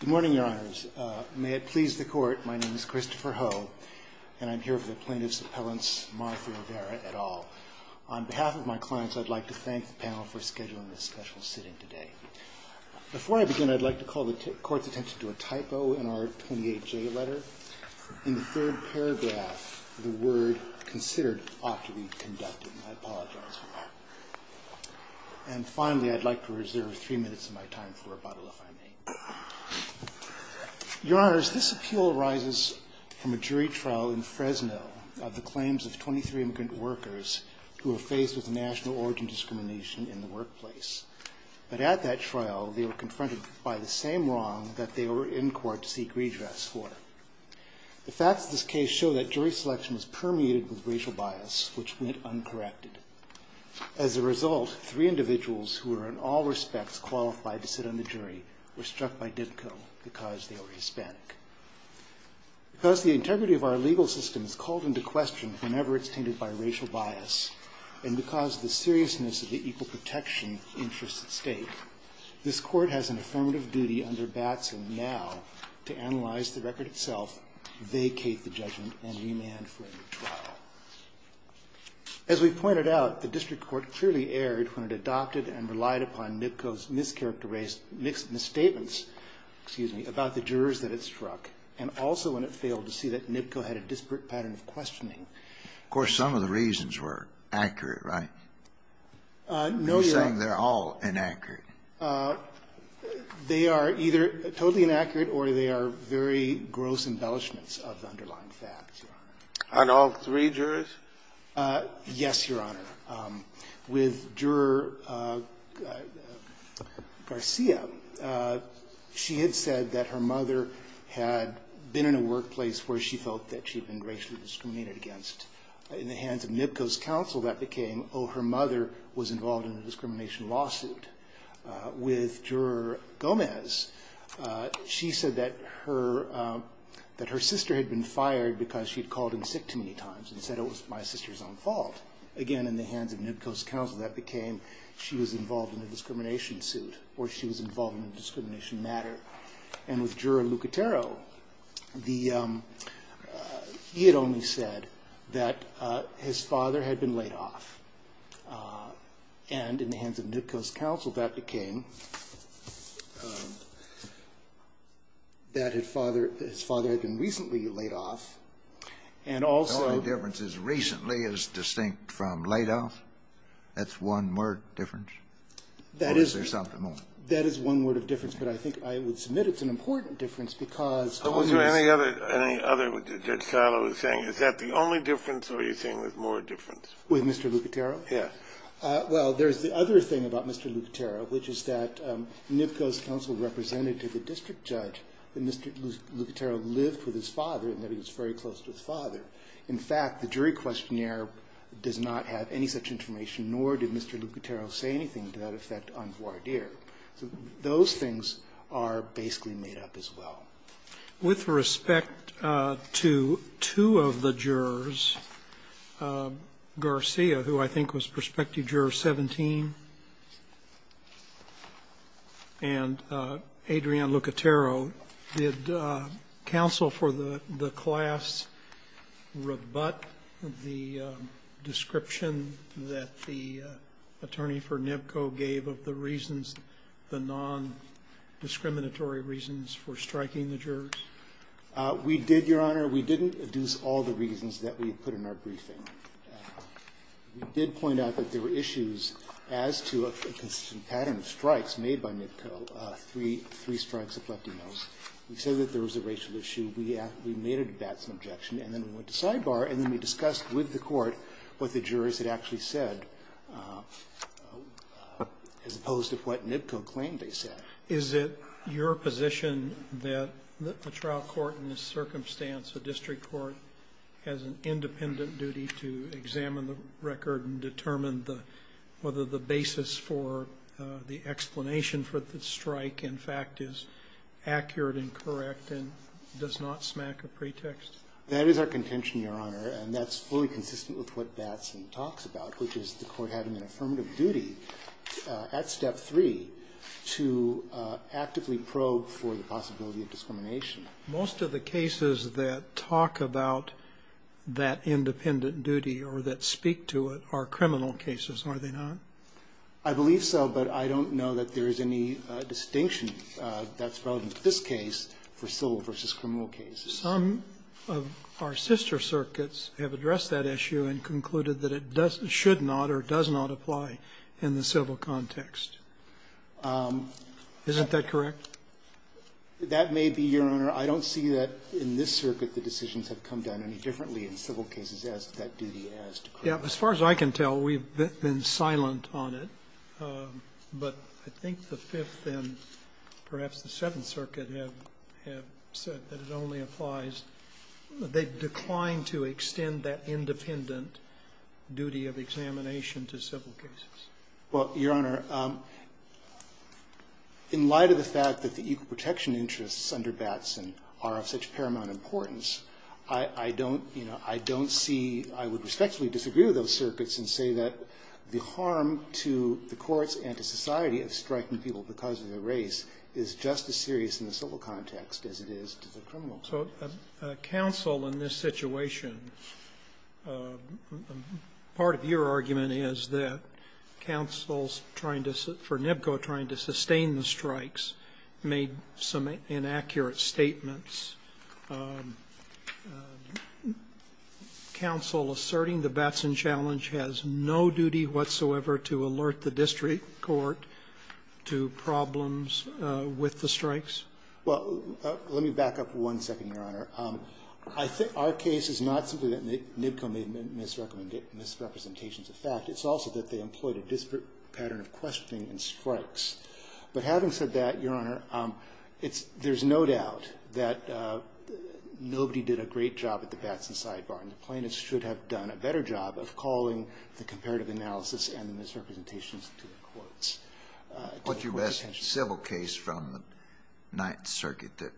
Good morning, Your Honors. May it please the Court, my name is Christopher Ho, and I'm here for the plaintiff's appellants, Martha and Vera, et al. On behalf of my clients, I'd like to thank the panel for scheduling this special sitting today. Before I begin, I'd like to call the Court's attention to a typo in our 28J letter. In the third paragraph, the word considered ought to be conducted. I apologize for that. And finally, I'd like to reserve three minutes of my time for rebuttal, if I may. Your Honors, this appeal arises from a jury trial in Fresno of the claims of 23 immigrant workers who were faced with national origin discrimination in the workplace. But at that trial, they were confronted by the same wrong that they were in court to seek redress for. The facts of this case show that jury selection was permeated with racial bias, which went uncorrected. As a result, three individuals who were in all respects qualified to sit on the jury were struck by NIBCO because they were Hispanic. Because the integrity of our legal system is called into question whenever it's tainted by racial bias, and because of the seriousness of the equal protection interests at stake, this Court has an affirmative duty under Batson now to analyze the record itself, vacate the judgment, and remand for a new trial. As we've pointed out, the district court clearly erred when it adopted and relied upon NIBCO's mischaracterized, misstatements, excuse me, about the jurors that it struck, and also when it failed to see that NIBCO had a disparate pattern of questioning. Of course, some of the reasons were accurate, right? No, Your Honor. You're saying they're all inaccurate. They are either totally inaccurate or they are very gross embellishments of the underlying facts, Your Honor. On all three jurors? Yes, Your Honor. With Juror Garcia, she had said that her mother had been in a workplace where she felt that she had been racially discriminated against. In the hands of NIBCO's counsel, that became, oh, her mother was involved in a discrimination lawsuit. With Juror Gomez, she said that her sister had been fired because she had called him sick too many times and said it was my sister's own fault. Again, in the hands of NIBCO's counsel, that became she was involved in a discrimination suit or she was involved in a discrimination matter. And with Juror Lucatero, he had only said that his father had been laid off. And in the hands of NIBCO's counsel, that became that his father had been recently laid off. The only difference is recently is distinct from laid off? That's one word difference? Or is there something more? That is one word of difference, but I think I would submit it's an important difference because Was there any other, as Judge Silo was saying, is that the only difference or are you saying there's more difference? With Mr. Lucatero? Yes. Well, there's the other thing about Mr. Lucatero, which is that NIBCO's counsel represented to the district judge that Mr. Lucatero lived with his father and that he was very close to his father. In fact, the jury questionnaire does not have any such information, nor did Mr. Lucatero say anything to that effect on voir dire. So those things are basically made up as well. With respect to two of the jurors, Garcia, who I think was prospective juror 17, and Adrian Lucatero, did counsel for the class rebut the description that the attorney for NIBCO gave of the reasons, the non-discriminatory reasons for striking the jurors? We did, Your Honor. We didn't deduce all the reasons that we put in our briefing. We did point out that there were issues as to a consistent pattern of strikes made by NIBCO, three strikes of lefty notes. We said that there was a racial issue. We made a debatable objection and then we went to sidebar and then we discussed with the court what the jurors had actually said as opposed to what NIBCO claimed they said. Is it your position that a trial court in this circumstance, a district court, has an independent duty to examine the record and determine whether the basis for the explanation for the strike, in fact, is accurate and correct and does not smack a pretext? That is our contention, Your Honor, and that's fully consistent with what Batson talks about, which is the court having an affirmative duty at Step 3 to actively probe for the possibility of discrimination. Most of the cases that talk about that independent duty or that speak to it are criminal cases, are they not? I believe so, but I don't know that there is any distinction that's relevant to this case for civil versus criminal cases. Some of our sister circuits have addressed that issue and concluded that it should not or does not apply in the civil context. Isn't that correct? That may be, Your Honor. I don't see that in this circuit the decisions have come down any differently in civil cases as to that duty as to criminal. As far as I can tell, we've been silent on it, but I think the Fifth and perhaps the Seventh Circuit have said that it only applies, they've declined to extend that independent duty of examination to civil cases. Well, Your Honor, in light of the fact that the equal protection interests under Batson are of such paramount importance, I don't see, I would respectfully disagree with those circuits and say that the harm to the courts and to society of striking people because of their race is just as serious in the civil context as it is to the criminal context. So counsel in this situation, part of your argument is that counsel's trying to, for NBCO trying to sustain the strikes, made some inaccurate statements. Counsel asserting the Batson challenge has no duty whatsoever to alert the district court to problems with the strikes? Well, let me back up one second, Your Honor. I think our case is not simply that NBCO made misrepresentations of fact. It's also that they employed a disparate pattern of questioning in strikes. But having said that, Your Honor, it's no doubt that nobody did a great job at the Batson sidebar, and the plaintiffs should have done a better job of calling the comparative What's your best civil case from the Ninth Circuit that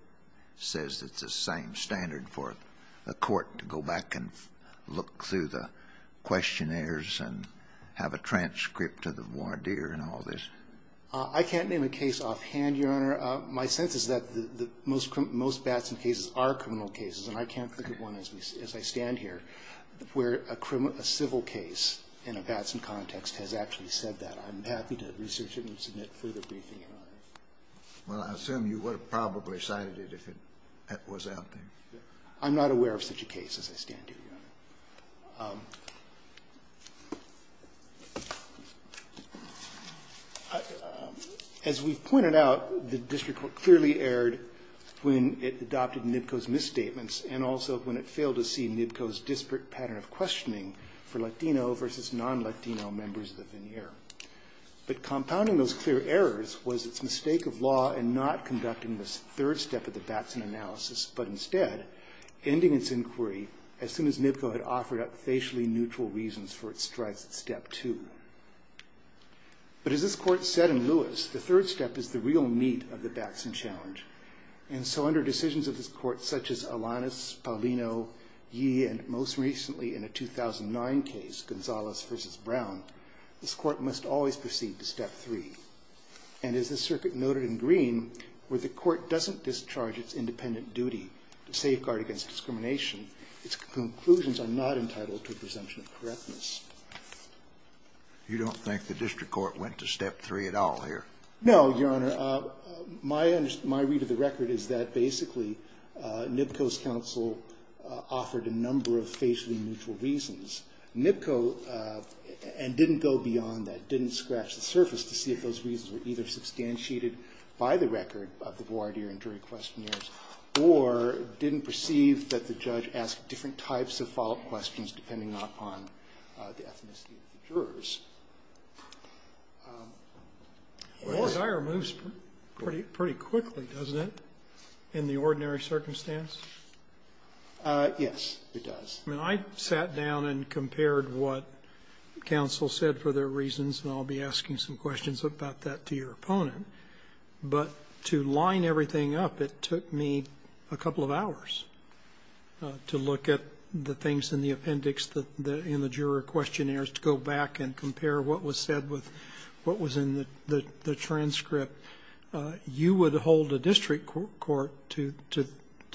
says it's the same standard for a court to go back and look through the questionnaires and have a transcript of the voir dire and all this? I can't name a case offhand, Your Honor. My sense is that most Batson cases are criminal cases, and I can't think of one as I stand here where a civil case in a Batson context has actually said that. I'm happy to research it and submit further briefing, Your Honor. Well, I assume you would have probably cited it if it was out there. I'm not aware of such a case as I stand here, Your Honor. As we've pointed out, the district court clearly erred when it adopted NBCO's misstatements and also when it failed to see NBCO's disparate pattern of questioning for Latino versus non-Latino members of the veneer. But compounding those clear errors was its mistake of law in not conducting this third step of the Batson analysis, but instead ending its inquiry as soon as NBCO had offered up facially neutral reasons for its strides at step two. But as this Court said in Lewis, the third step is the real meat of the Batson challenge. And so under decisions of this Court, such as Alanis, Paulino, Yee, and most recently in a 2009 case, Gonzalez versus Brown, this Court must always proceed to step three. And as the circuit noted in Green, where the Court doesn't discharge its independent duty to safeguard against discrimination, its conclusions are not entitled to a presumption of correctness. You don't think the district court went to step three at all here? No, Your Honor. My read of the record is that basically NBCO's counsel offered a number of facial neutral reasons. NBCO, and didn't go beyond that, didn't scratch the surface to see if those reasons were either substantiated by the record of the voir dire and jury questionnaires or didn't perceive that the judge asked different types of follow-up questions depending upon the ethnicity of the jurors. Well, the hire moves pretty quickly, doesn't it, in the ordinary circumstance? Yes, it does. I mean, I sat down and compared what counsel said for their reasons, and I'll be asking some questions about that to your opponent. But to line everything up, it took me a couple of hours to look at the things in the appendix, in the juror questionnaires, to go back and compare what was said with what was in the transcript. You would hold a district court to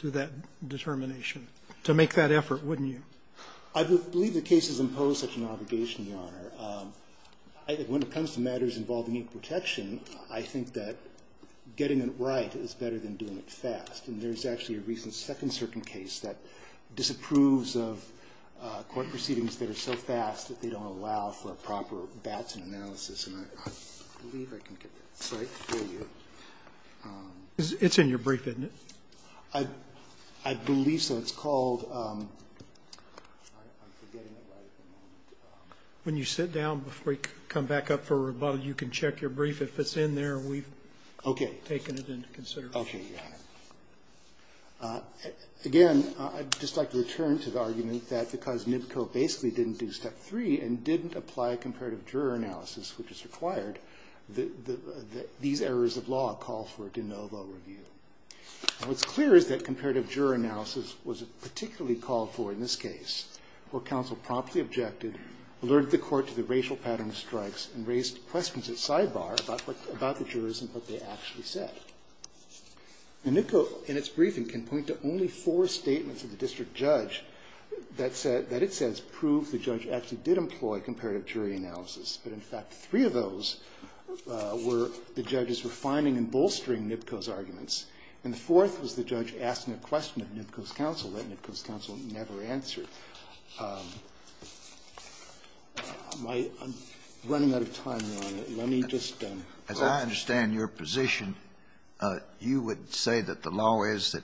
that determination, to make that effort, wouldn't you? I believe the case has imposed such an obligation, Your Honor. When it comes to matters involving equal protection, I think that getting it right is better than doing it fast. And there's actually a recent second-circuit case that disapproves of court proceedings that are so fast that they don't allow for proper Batson analysis. And I believe I can get that cite for you. It's in your brief, isn't it? I believe so. It's called – I'm forgetting it right at the moment. When you sit down before you come back up for rebuttal, you can check your brief. If it's in there, we've taken it into consideration. Okay. Okay, Your Honor. Again, I'd just like to return to the argument that because NBCO basically didn't do step three and didn't apply comparative juror analysis, which is required, these errors of law call for a de novo review. What's clear is that comparative juror analysis was particularly called for in this case, where counsel promptly objected, alerted the court to the racial pattern of strikes, and raised questions at sidebar about the jurors and what they actually said. NBCO, in its briefing, can point to only four statements of the district judge that said – that it says proved the judge actually did employ comparative jury analysis, but in fact, three of those were the judges were finding and bolstering NBCO's arguments, and the fourth was the judge asking a question of NBCO's counsel that NBCO's counsel never answered. I'm running out of time, Your Honor. Let me just – As I understand your position, you would say that the law is that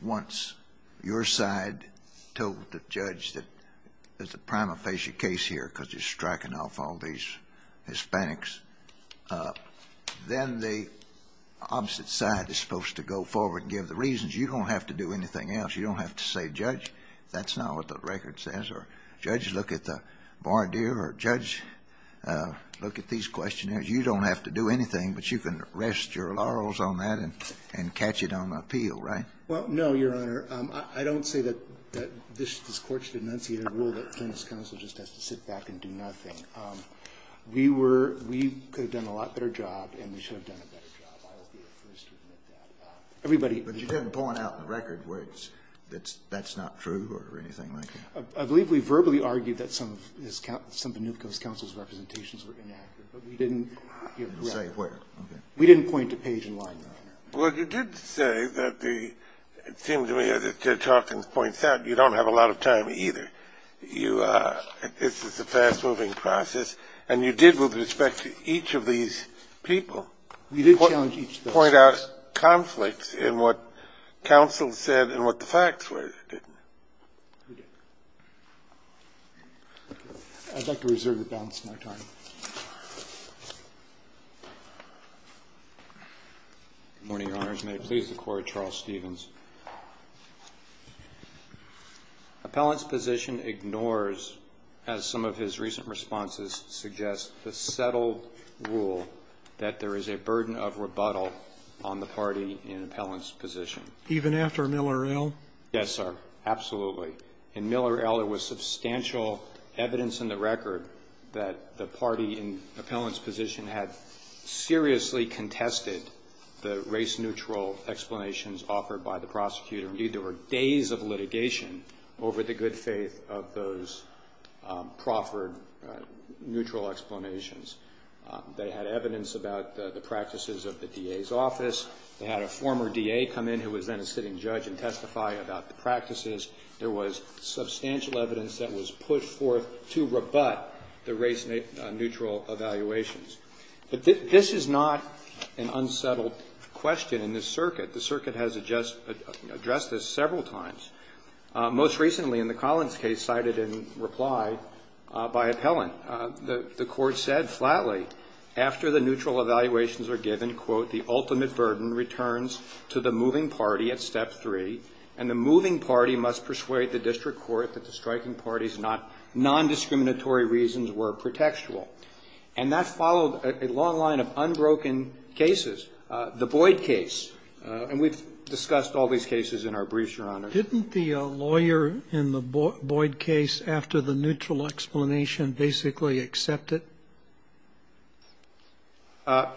once your side told the judge that there's a prima facie case here because you're striking off all these Hispanics, then the opposite side is supposed to go forward and give the reasons. You don't have to do anything else. You don't have to say, Judge, that's not what the record says, or Judge, look at the bar deal, or Judge, look at these questionnaires. You don't have to do anything, but you can rest your laurels on that and catch it on appeal, right? Well, no, Your Honor. I don't say that this Court should enunciate a rule that this counsel just has to sit back and do nothing. We were – we could have done a lot better job, and we should have done a better job. I will be the first to admit that. Everybody – But you didn't point out in the record where it's – that's not true or anything like that? I believe we verbally argued that some of this – some of the NBCO's counsel's representations were inaccurate, but we didn't – You didn't say where. Okay. We didn't point a page in line, Your Honor. Well, you did say that the – it seems to me, as Judge Hawkins points out, you don't have a lot of time, either. You – this is a fast-moving process, and you did, with respect to each of these people, point out conflicts in what counsel said and what the facts were, didn't you? We did. I'd like to reserve the balance of my time. Good morning, Your Honors. May it please the Court. Charles Stevens. Appellant's position ignores, as some of his recent responses suggest, the settled rule that there is a burden of rebuttal on the party in Appellant's position. Even after Miller L.? Yes, sir. Absolutely. And Miller L.? There was substantial evidence in the record that the party in Appellant's position had seriously contested the race-neutral explanations offered by the prosecutor. Indeed, there were days of litigation over the good faith of those proffered neutral explanations. They had evidence about the practices of the DA's office. They had a former DA come in, who was then a sitting judge, and testify about the case. There was substantial evidence that was put forth to rebut the race-neutral evaluations. But this is not an unsettled question in this circuit. The circuit has addressed this several times. Most recently, in the Collins case, cited in reply by Appellant, the Court said flatly, after the neutral evaluations are given, quote, the ultimate burden returns to the moving party at step three, and the moving party must persuade the district court that the striking party's non-discriminatory reasons were pretextual. And that followed a long line of unbroken cases. The Boyd case, and we've discussed all these cases in our briefs, Your Honor. Didn't the lawyer in the Boyd case, after the neutral explanation, basically accept it? The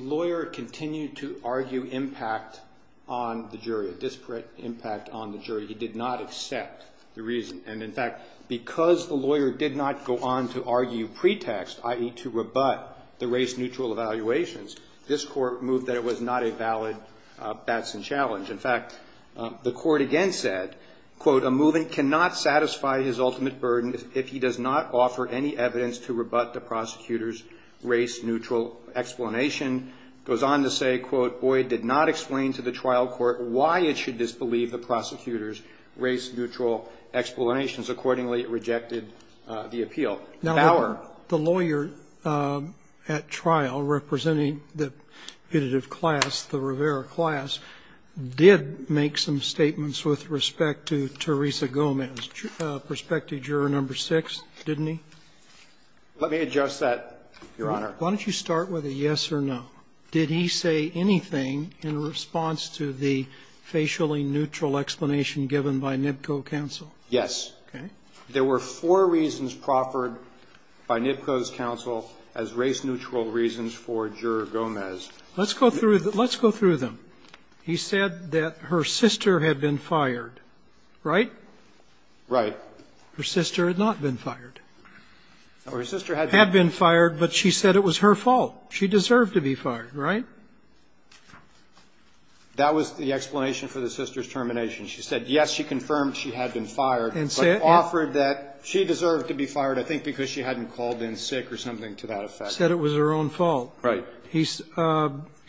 lawyer continued to argue impact on the jury, disparate impact on the jury. He did not accept the reason. And, in fact, because the lawyer did not go on to argue pretext, i.e., to rebut the race-neutral evaluations, this Court moved that it was not a valid Batson challenge. In fact, the Court again said, quote, a moving cannot satisfy his ultimate burden if he does not offer any evidence to rebut the prosecutor's race-neutral explanation. It goes on to say, quote, Boyd did not explain to the trial court why it should disbelieve the prosecutor's race-neutral explanations. Accordingly, it rejected the appeal. Now, the lawyer at trial representing the competitive class, the Rivera class, did make some statements with respect to Teresa Gomez, prospective juror number 6, didn't he? Let me adjust that, Your Honor. Why don't you start with a yes or no. Did he say anything in response to the facially-neutral explanation given by NBCO counsel? Yes. Okay. There were four reasons proffered by NBCO's counsel as race-neutral reasons for juror Gomez. Let's go through them. He said that her sister had been fired, right? Right. Her sister had not been fired. Her sister had been fired, but she said it was her fault. She deserved to be fired, right? That was the explanation for the sister's termination. She said, yes, she confirmed she had been fired, but offered that she deserved to be fired, I think, because she hadn't called in sick or something to that effect. Said it was her own fault. Right.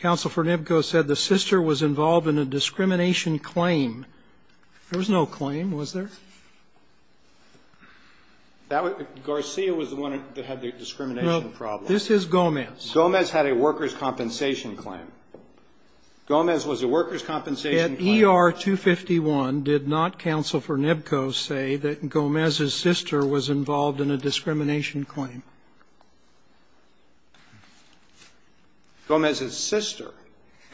Counsel for NBCO said the sister was involved in a discrimination claim. There was no claim, was there? Garcia was the one that had the discrimination problem. No. This is Gomez. Gomez had a workers' compensation claim. Gomez was a workers' compensation claim. At ER 251, did not counsel for NBCO say that Gomez's sister was involved in a discrimination claim? Gomez's sister.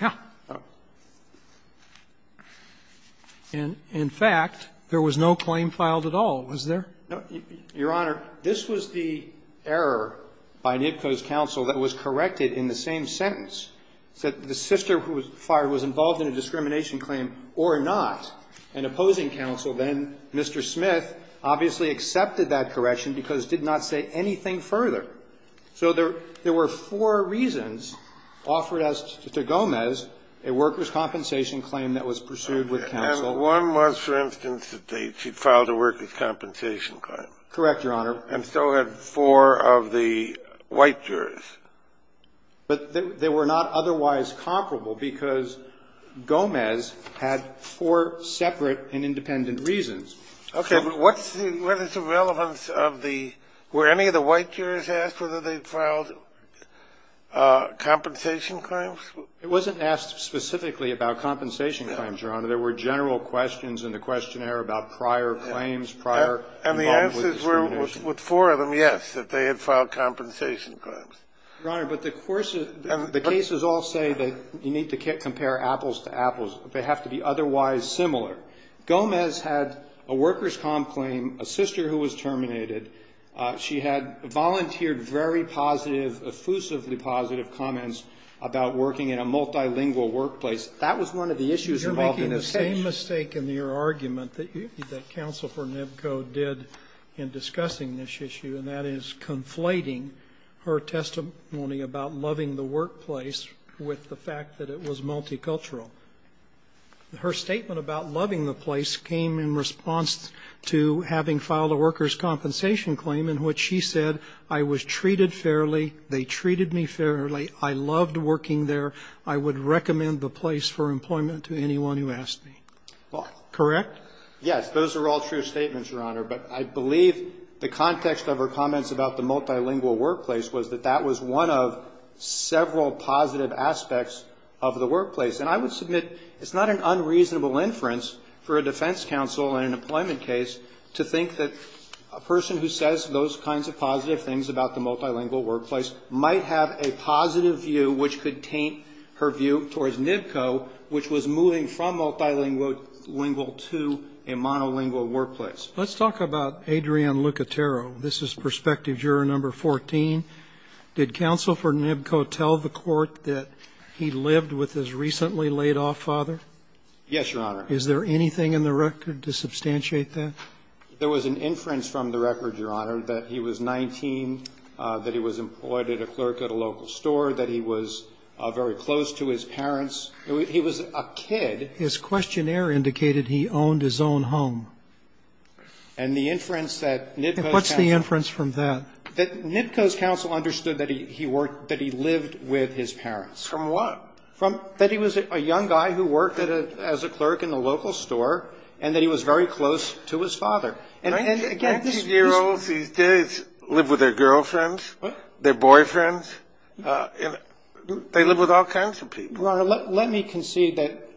Yeah. In fact, there was no claim filed at all, was there? No. Your Honor, this was the error by NBCO's counsel that was corrected in the same sentence. Said the sister who was fired was involved in a discrimination claim or not. And opposing counsel then, Mr. Smith, obviously accepted that correction because Gomez did not say anything further. So there were four reasons offered as to Gomez, a workers' compensation claim that was pursued with counsel. And one was, for instance, that she filed a workers' compensation claim. Correct, Your Honor. And so had four of the white jurors. But they were not otherwise comparable because Gomez had four separate and independent reasons. Okay. But what's the relevance of the – were any of the white jurors asked whether they filed compensation claims? It wasn't asked specifically about compensation claims, Your Honor. There were general questions in the questionnaire about prior claims, prior involvement with discrimination. And the answers were, with four of them, yes, that they had filed compensation claims. Your Honor, but the cases all say that you need to compare apples to apples. They have to be otherwise similar. Gomez had a workers' comp claim, a sister who was terminated. She had volunteered very positive, effusively positive comments about working in a multilingual workplace. That was one of the issues involved in this case. You're making the same mistake in your argument that counsel for NBCO did in discussing this issue, and that is conflating her testimony about loving the workplace with the fact that it was multicultural. Her statement about loving the place came in response to having filed a workers' compensation claim in which she said, I was treated fairly, they treated me fairly, I loved working there, I would recommend the place for employment to anyone who asked me. Correct? Yes. Those are all true statements, Your Honor. But I believe the context of her comments about the multilingual workplace was that that was one of several positive aspects of the workplace. And I would submit it's not an unreasonable inference for a defense counsel in an employment case to think that a person who says those kinds of positive things about the multilingual workplace might have a positive view which could taint her view towards NBCO, which was moving from multilingual to a monolingual workplace. Let's talk about Adrian Lucatero. This is perspective juror number 14. Did Counsel for NBCO tell the Court that he lived with his recently laid-off father? Yes, Your Honor. Is there anything in the record to substantiate that? There was an inference from the record, Your Honor, that he was 19, that he was employed at a clerk at a local store, that he was very close to his parents. He was a kid. His questionnaire indicated he owned his own home. And the inference that NBCO's counsel What's the inference from that? That NBCO's counsel understood that he worked, that he lived with his parents. From what? From that he was a young guy who worked as a clerk in a local store and that he was very close to his father. 19-year-olds these days live with their girlfriends, their boyfriends. They live with all kinds of people. Your Honor, let me concede that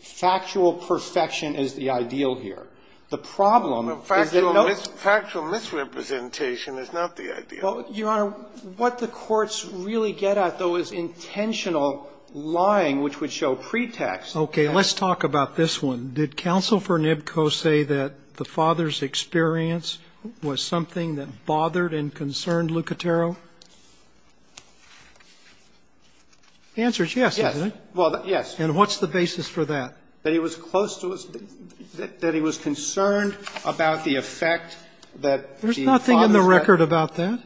factual perfection is the ideal here. The problem is that no Factual misrepresentation is not the ideal. Your Honor, what the courts really get at, though, is intentional lying, which would show pretext. Okay. Let's talk about this one. Did Counsel for NBCO say that the father's experience was something that bothered and concerned Lucatero? The answer is yes, isn't it? Well, yes. And what's the basis for that? That he was close to us, that he was concerned about the effect that the father's There's nothing in the record about that.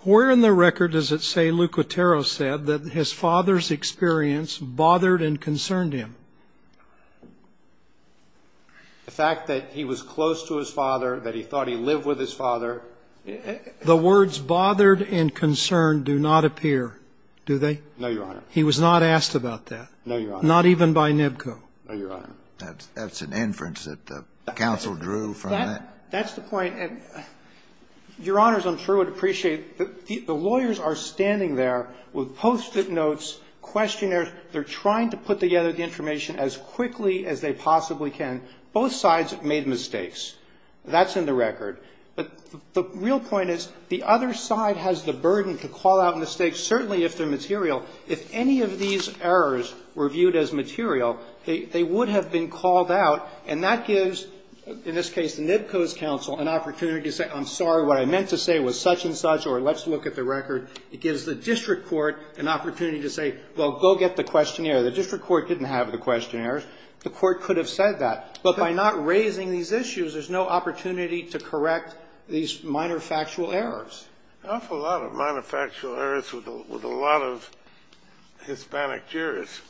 Where in the record does it say Lucatero said that his father's experience bothered and concerned him? The fact that he was close to his father, that he thought he lived with his father. The words bothered and concerned do not appear, do they? No, Your Honor. He was not asked about that. No, Your Honor. Not even by NBCO. No, Your Honor. That's an inference that the counsel drew from that. That's the point. Your Honors, I'm sure would appreciate that the lawyers are standing there with Post-it notes, questionnaires. They're trying to put together the information as quickly as they possibly can. Both sides made mistakes. That's in the record. But the real point is the other side has the burden to call out mistakes, certainly if they're material. If any of these errors were viewed as material, they would have been called out. And that gives, in this case, the NBCO's counsel an opportunity to say, I'm sorry. What I meant to say was such and such, or let's look at the record. It gives the district court an opportunity to say, well, go get the questionnaire. The district court didn't have the questionnaire. The court could have said that. But by not raising these issues, there's no opportunity to correct these minor factual errors. An awful lot of minor factual errors with a lot of Hispanic jurors.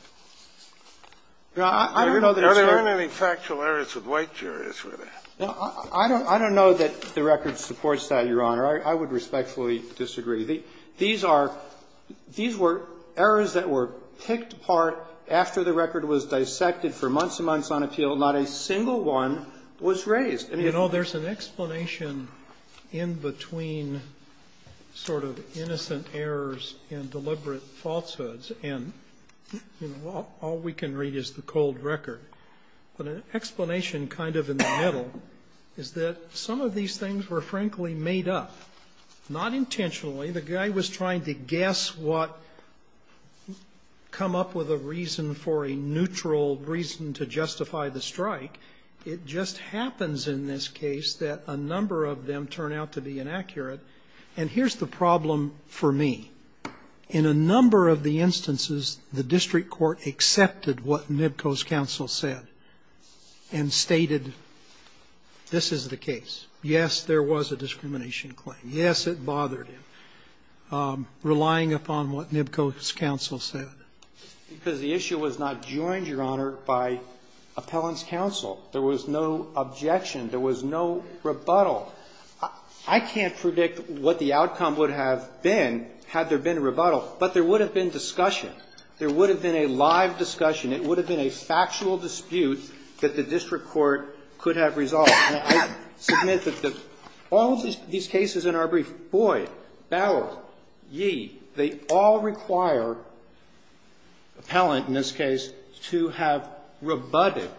There aren't any factual errors with white jurors, really. I don't know that the record supports that, Your Honor. I would respectfully disagree. These are – these were errors that were picked apart after the record was dissected for months and months on appeal. Not a single one was raised. And, you know, there's an explanation in between sort of innocent errors and deliberate falsehoods. And, you know, all we can read is the cold record. But an explanation kind of in the middle is that some of these things were, frankly, made up, not intentionally. The guy was trying to guess what – come up with a reason for a neutral reason to justify the strike. It just happens in this case that a number of them turn out to be inaccurate. And here's the problem for me. In a number of the instances, the district court accepted what Nibco's counsel said and stated, this is the case. Yes, there was a discrimination claim. Yes, it bothered him. Relying upon what Nibco's counsel said. Because the issue was not joined, Your Honor, by appellant's counsel. There was no objection. There was no rebuttal. I can't predict what the outcome would have been had there been a rebuttal. But there would have been discussion. There would have been a live discussion. It would have been a factual dispute that the district court could have resolved. And I submit that all of these cases in our brief, Boyd, Ballard, Yee, they all require appellant in this case to have rebutted,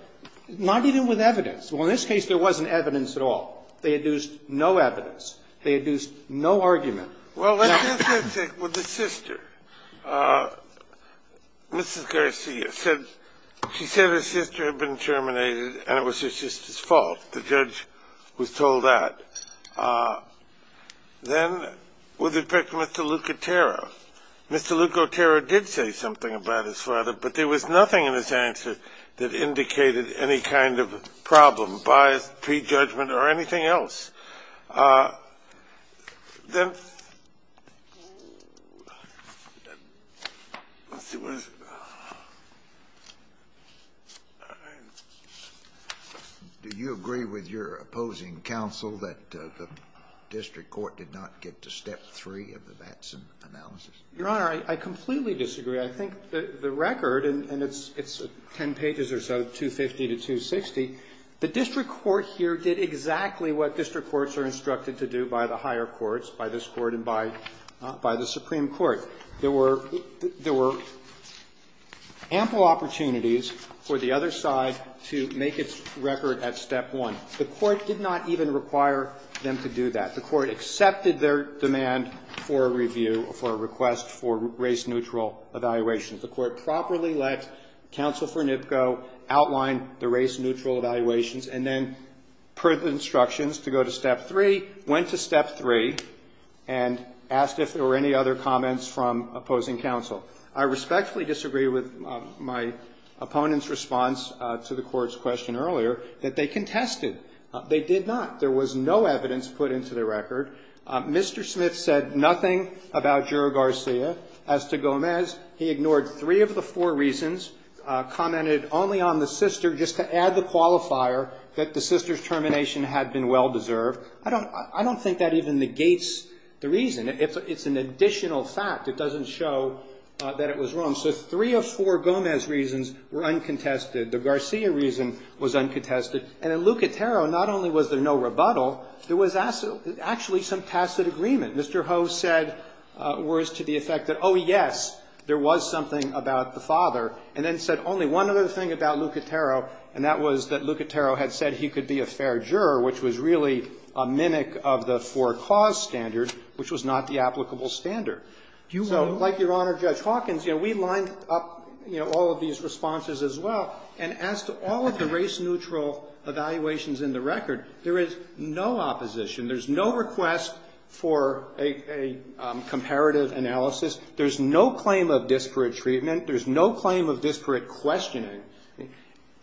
not even with evidence. Well, in this case, there wasn't evidence at all. They had used no evidence. They had used no argument. Well, let's just say with the sister. Mrs. Garcia said her sister had been terminated and it was her sister's fault. The judge was told that. Then with respect to Mr. Lucatero, Mr. Lucatero did say something about his father, but there was nothing in his answer that indicated any kind of problem, bias, prejudgment, or anything else. Do you agree with your opposing counsel that the district court did not get to step three of the Batson analysis? Your Honor, I completely disagree. I think the record, and it's 10 pages or so, 250 to 260, the district court here did exactly what district courts are instructed to do by the higher courts, by this court and by the Supreme Court. There were ample opportunities for the other side to make its record at step one. The court did not even require them to do that. The court accepted their demand for a review, for a request for race-neutral evaluations. The court properly let counsel for NIPCO outline the race-neutral evaluations and then, per the instructions, to go to step three, went to step three, and asked if there were any other comments from opposing counsel. I respectfully disagree with my opponent's response to the Court's question earlier that they contested. They did not. There was no evidence put into the record. Mr. Smith said nothing about Juro Garcia. As to Gomez, he ignored three of the four reasons, commented only on the sister just to add the qualifier that the sister's termination had been well-deserved. I don't think that even negates the reason. It's an additional fact. It doesn't show that it was wrong. So three of four Gomez reasons were uncontested. The Garcia reason was uncontested. And in Lucatero, not only was there no rebuttal, there was actually some tacit agreement. Mr. Ho said words to the effect that, oh, yes, there was something about the father, and then said only one other thing about Lucatero, and that was that Lucatero had said he could be a fair juror, which was really a mimic of the for cause standard, which was not the applicable standard. So like Your Honor, Judge Hawkins, you know, we lined up, you know, all of these responses as well. And as to all of the race-neutral evaluations in the record, there is no opposition. There's no request for a comparative analysis. There's no claim of disparate treatment. There's no claim of disparate questioning.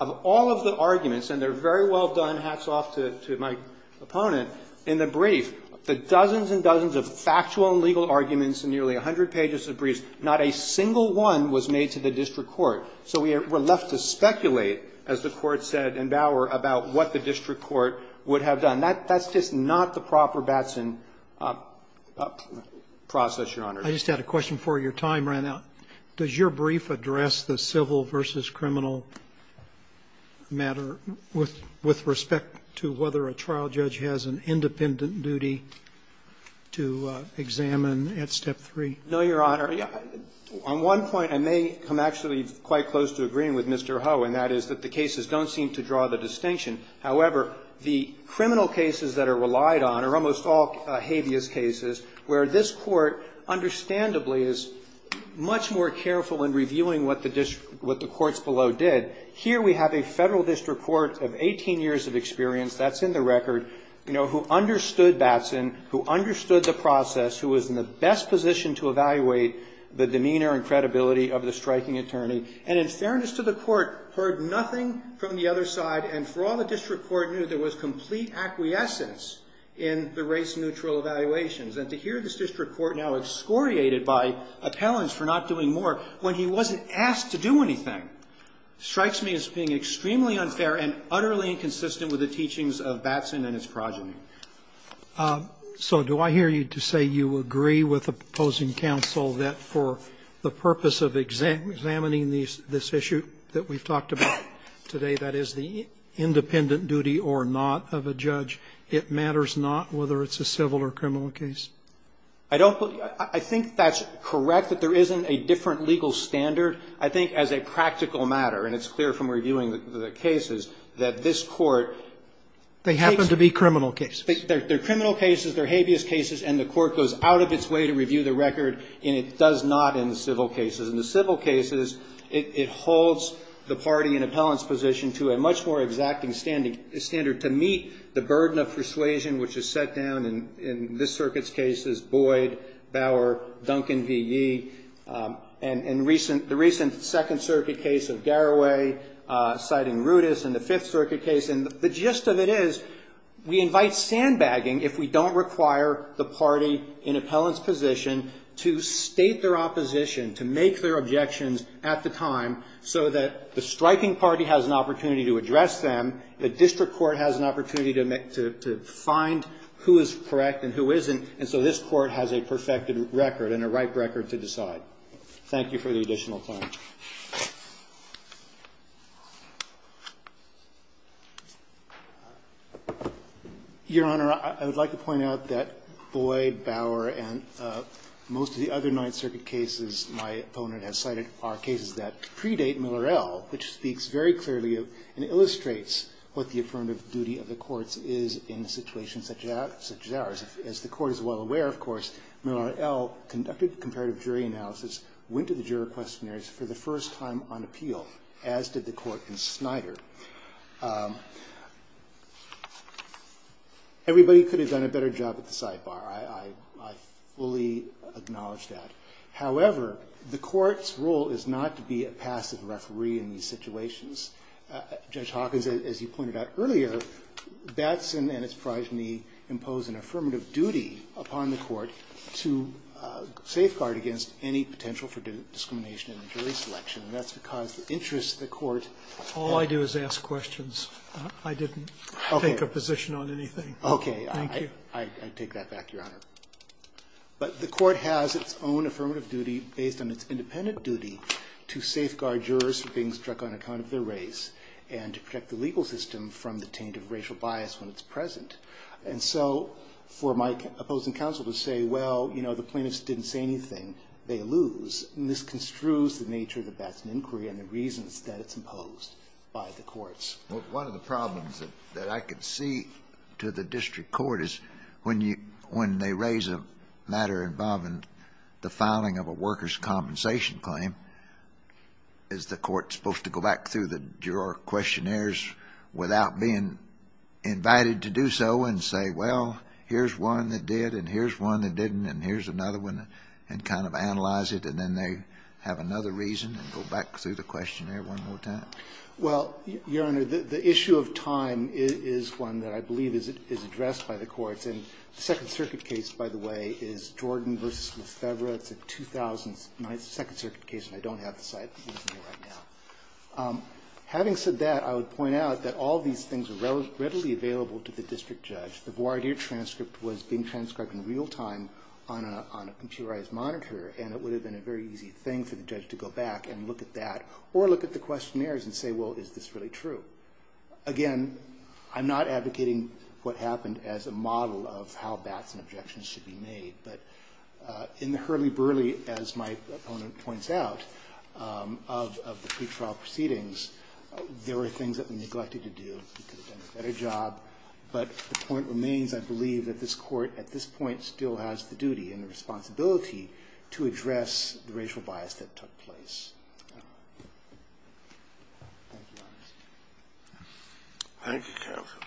Of all of the arguments, and they're very well done, hats off to my opponent, in the brief, the dozens and dozens of factual and legal arguments in nearly 100 pages of briefs, not a single one was made to the district court. So we're left to speculate, as the Court said in Bower, about what the district court would have done. That's just not the proper Batson process, Your Honor. Roberts, I just had a question for you. Your time ran out. Does your brief address the civil versus criminal matter with respect to whether a trial judge has an independent duty to examine at step 3? No, Your Honor. On one point, I may come actually quite close to agreeing with Mr. Ho, and that is that the cases don't seem to draw the distinction. However, the criminal cases that are relied on are almost all habeas cases, where this Court, understandably, is much more careful in reviewing what the courts below did. Here we have a federal district court of 18 years of experience, that's in the record, who understood Batson, who understood the process, who was in the best position to evaluate the demeanor and credibility of the striking attorney, and in fairness to the Court, heard nothing from the other side, and for all the district court knew, there was complete acquiescence in the race-neutral evaluations, and to hear this district court now excoriated by appellants for not doing more, when he wasn't asked to do anything, strikes me as being extremely unfair and utterly inconsistent with the teachings of Batson and his progeny. So do I hear you to say you agree with the proposing counsel that for the purpose of examining this issue that we've talked about today, that is the independent duty or not of a judge, it matters not whether it's a civil or criminal case? I don't believe that. I think that's correct, that there isn't a different legal standard. I think as a practical matter, and it's clear from reviewing the cases, that this Court takes the case of Batson. They happen to be criminal cases. They're criminal cases. They're habeas cases. And the Court goes out of its way to review the record, and it does not in the civil cases. In the civil cases, it holds the party in appellant's position to a much more exacting standard to meet the burden of persuasion, which is set down in this circuit's cases, Boyd, Bauer, Duncan v. Yee, and the recent Second Circuit case of Garraway citing Rudess in the Fifth Circuit case. And the gist of it is we invite sandbagging if we don't require the party in appellant's position to state their opposition, to make their objections at the time so that the striking party has an opportunity to address them, the district court has an opportunity to find who is correct and who isn't, and so this Court has a perfected record and a right record to decide. Thank you for the additional time. Your Honor, I would like to point out that Boyd, Bauer, and most of the other Ninth Circuit defendants, and I would like to reiterate Miller, L., which speaks very clearly and illustrates what the affirmative duty of the courts is in situations such as ours. As the Court is well aware, of course, Miller, L. conducted comparative jury analysis, went to the juror questionnaires for the first time on appeal, as did the Court in Snyder. Everybody could have done a better job at the sidebar. I fully acknowledge that. However, the Court's role is not to be a passive referee in these situations. Judge Hawkins, as you pointed out earlier, Batson and his progeny impose an affirmative duty upon the Court to safeguard against any potential for discrimination in the jury selection. And that's because the interests of the Court are... All I do is ask questions. I didn't take a position on anything. Okay. Thank you. I take that back, Your Honor. But the Court has its own affirmative duty based on its independent duty to safeguard jurors from being struck on account of their race and to protect the legal system from the taint of racial bias when it's present. And so for my opposing counsel to say, well, you know, the plaintiffs didn't say anything, they lose, misconstrues the nature of the Batson inquiry and the reasons that it's imposed by the courts. One of the problems that I can see to the district court is when they raise a matter involving the filing of a worker's compensation claim, is the court supposed to go back through the juror questionnaires without being invited to do so and say, well, here's one that did and here's one that didn't and here's another one, and kind of analyze it, and then they have another reason and go back through the questionnaire one more time? Well, Your Honor, the issue of time is one that I believe is addressed by the courts. And the Second Circuit case, by the way, is Jordan v. Lefebvre. It's a 2009 Second Circuit case, and I don't have the site with me right now. Having said that, I would point out that all these things are readily available to the district judge. The voir dire transcript was being transcribed in real time on a computerized monitor, and it would have been a very easy thing for the judge to go back and look at that or look at the questionnaires and say, well, is this really true? Again, I'm not advocating what happened as a model of how bats and objections should be made, but in the hurly-burly, as my opponent points out, of the pretrial proceedings, there were things that were neglected to do. We could have done a better job. But the point remains, I believe, that this court at this point still has the duty and the responsibility to address the racial bias that took place. Thank you, Your Honor. Thank you, counsel.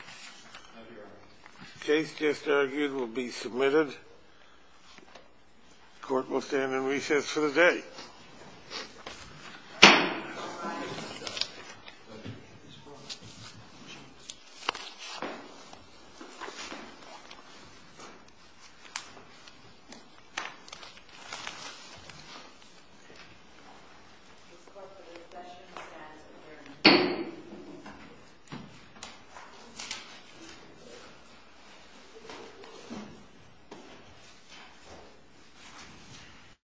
The case just argued will be submitted. The court will stand in recess for the day. All rise.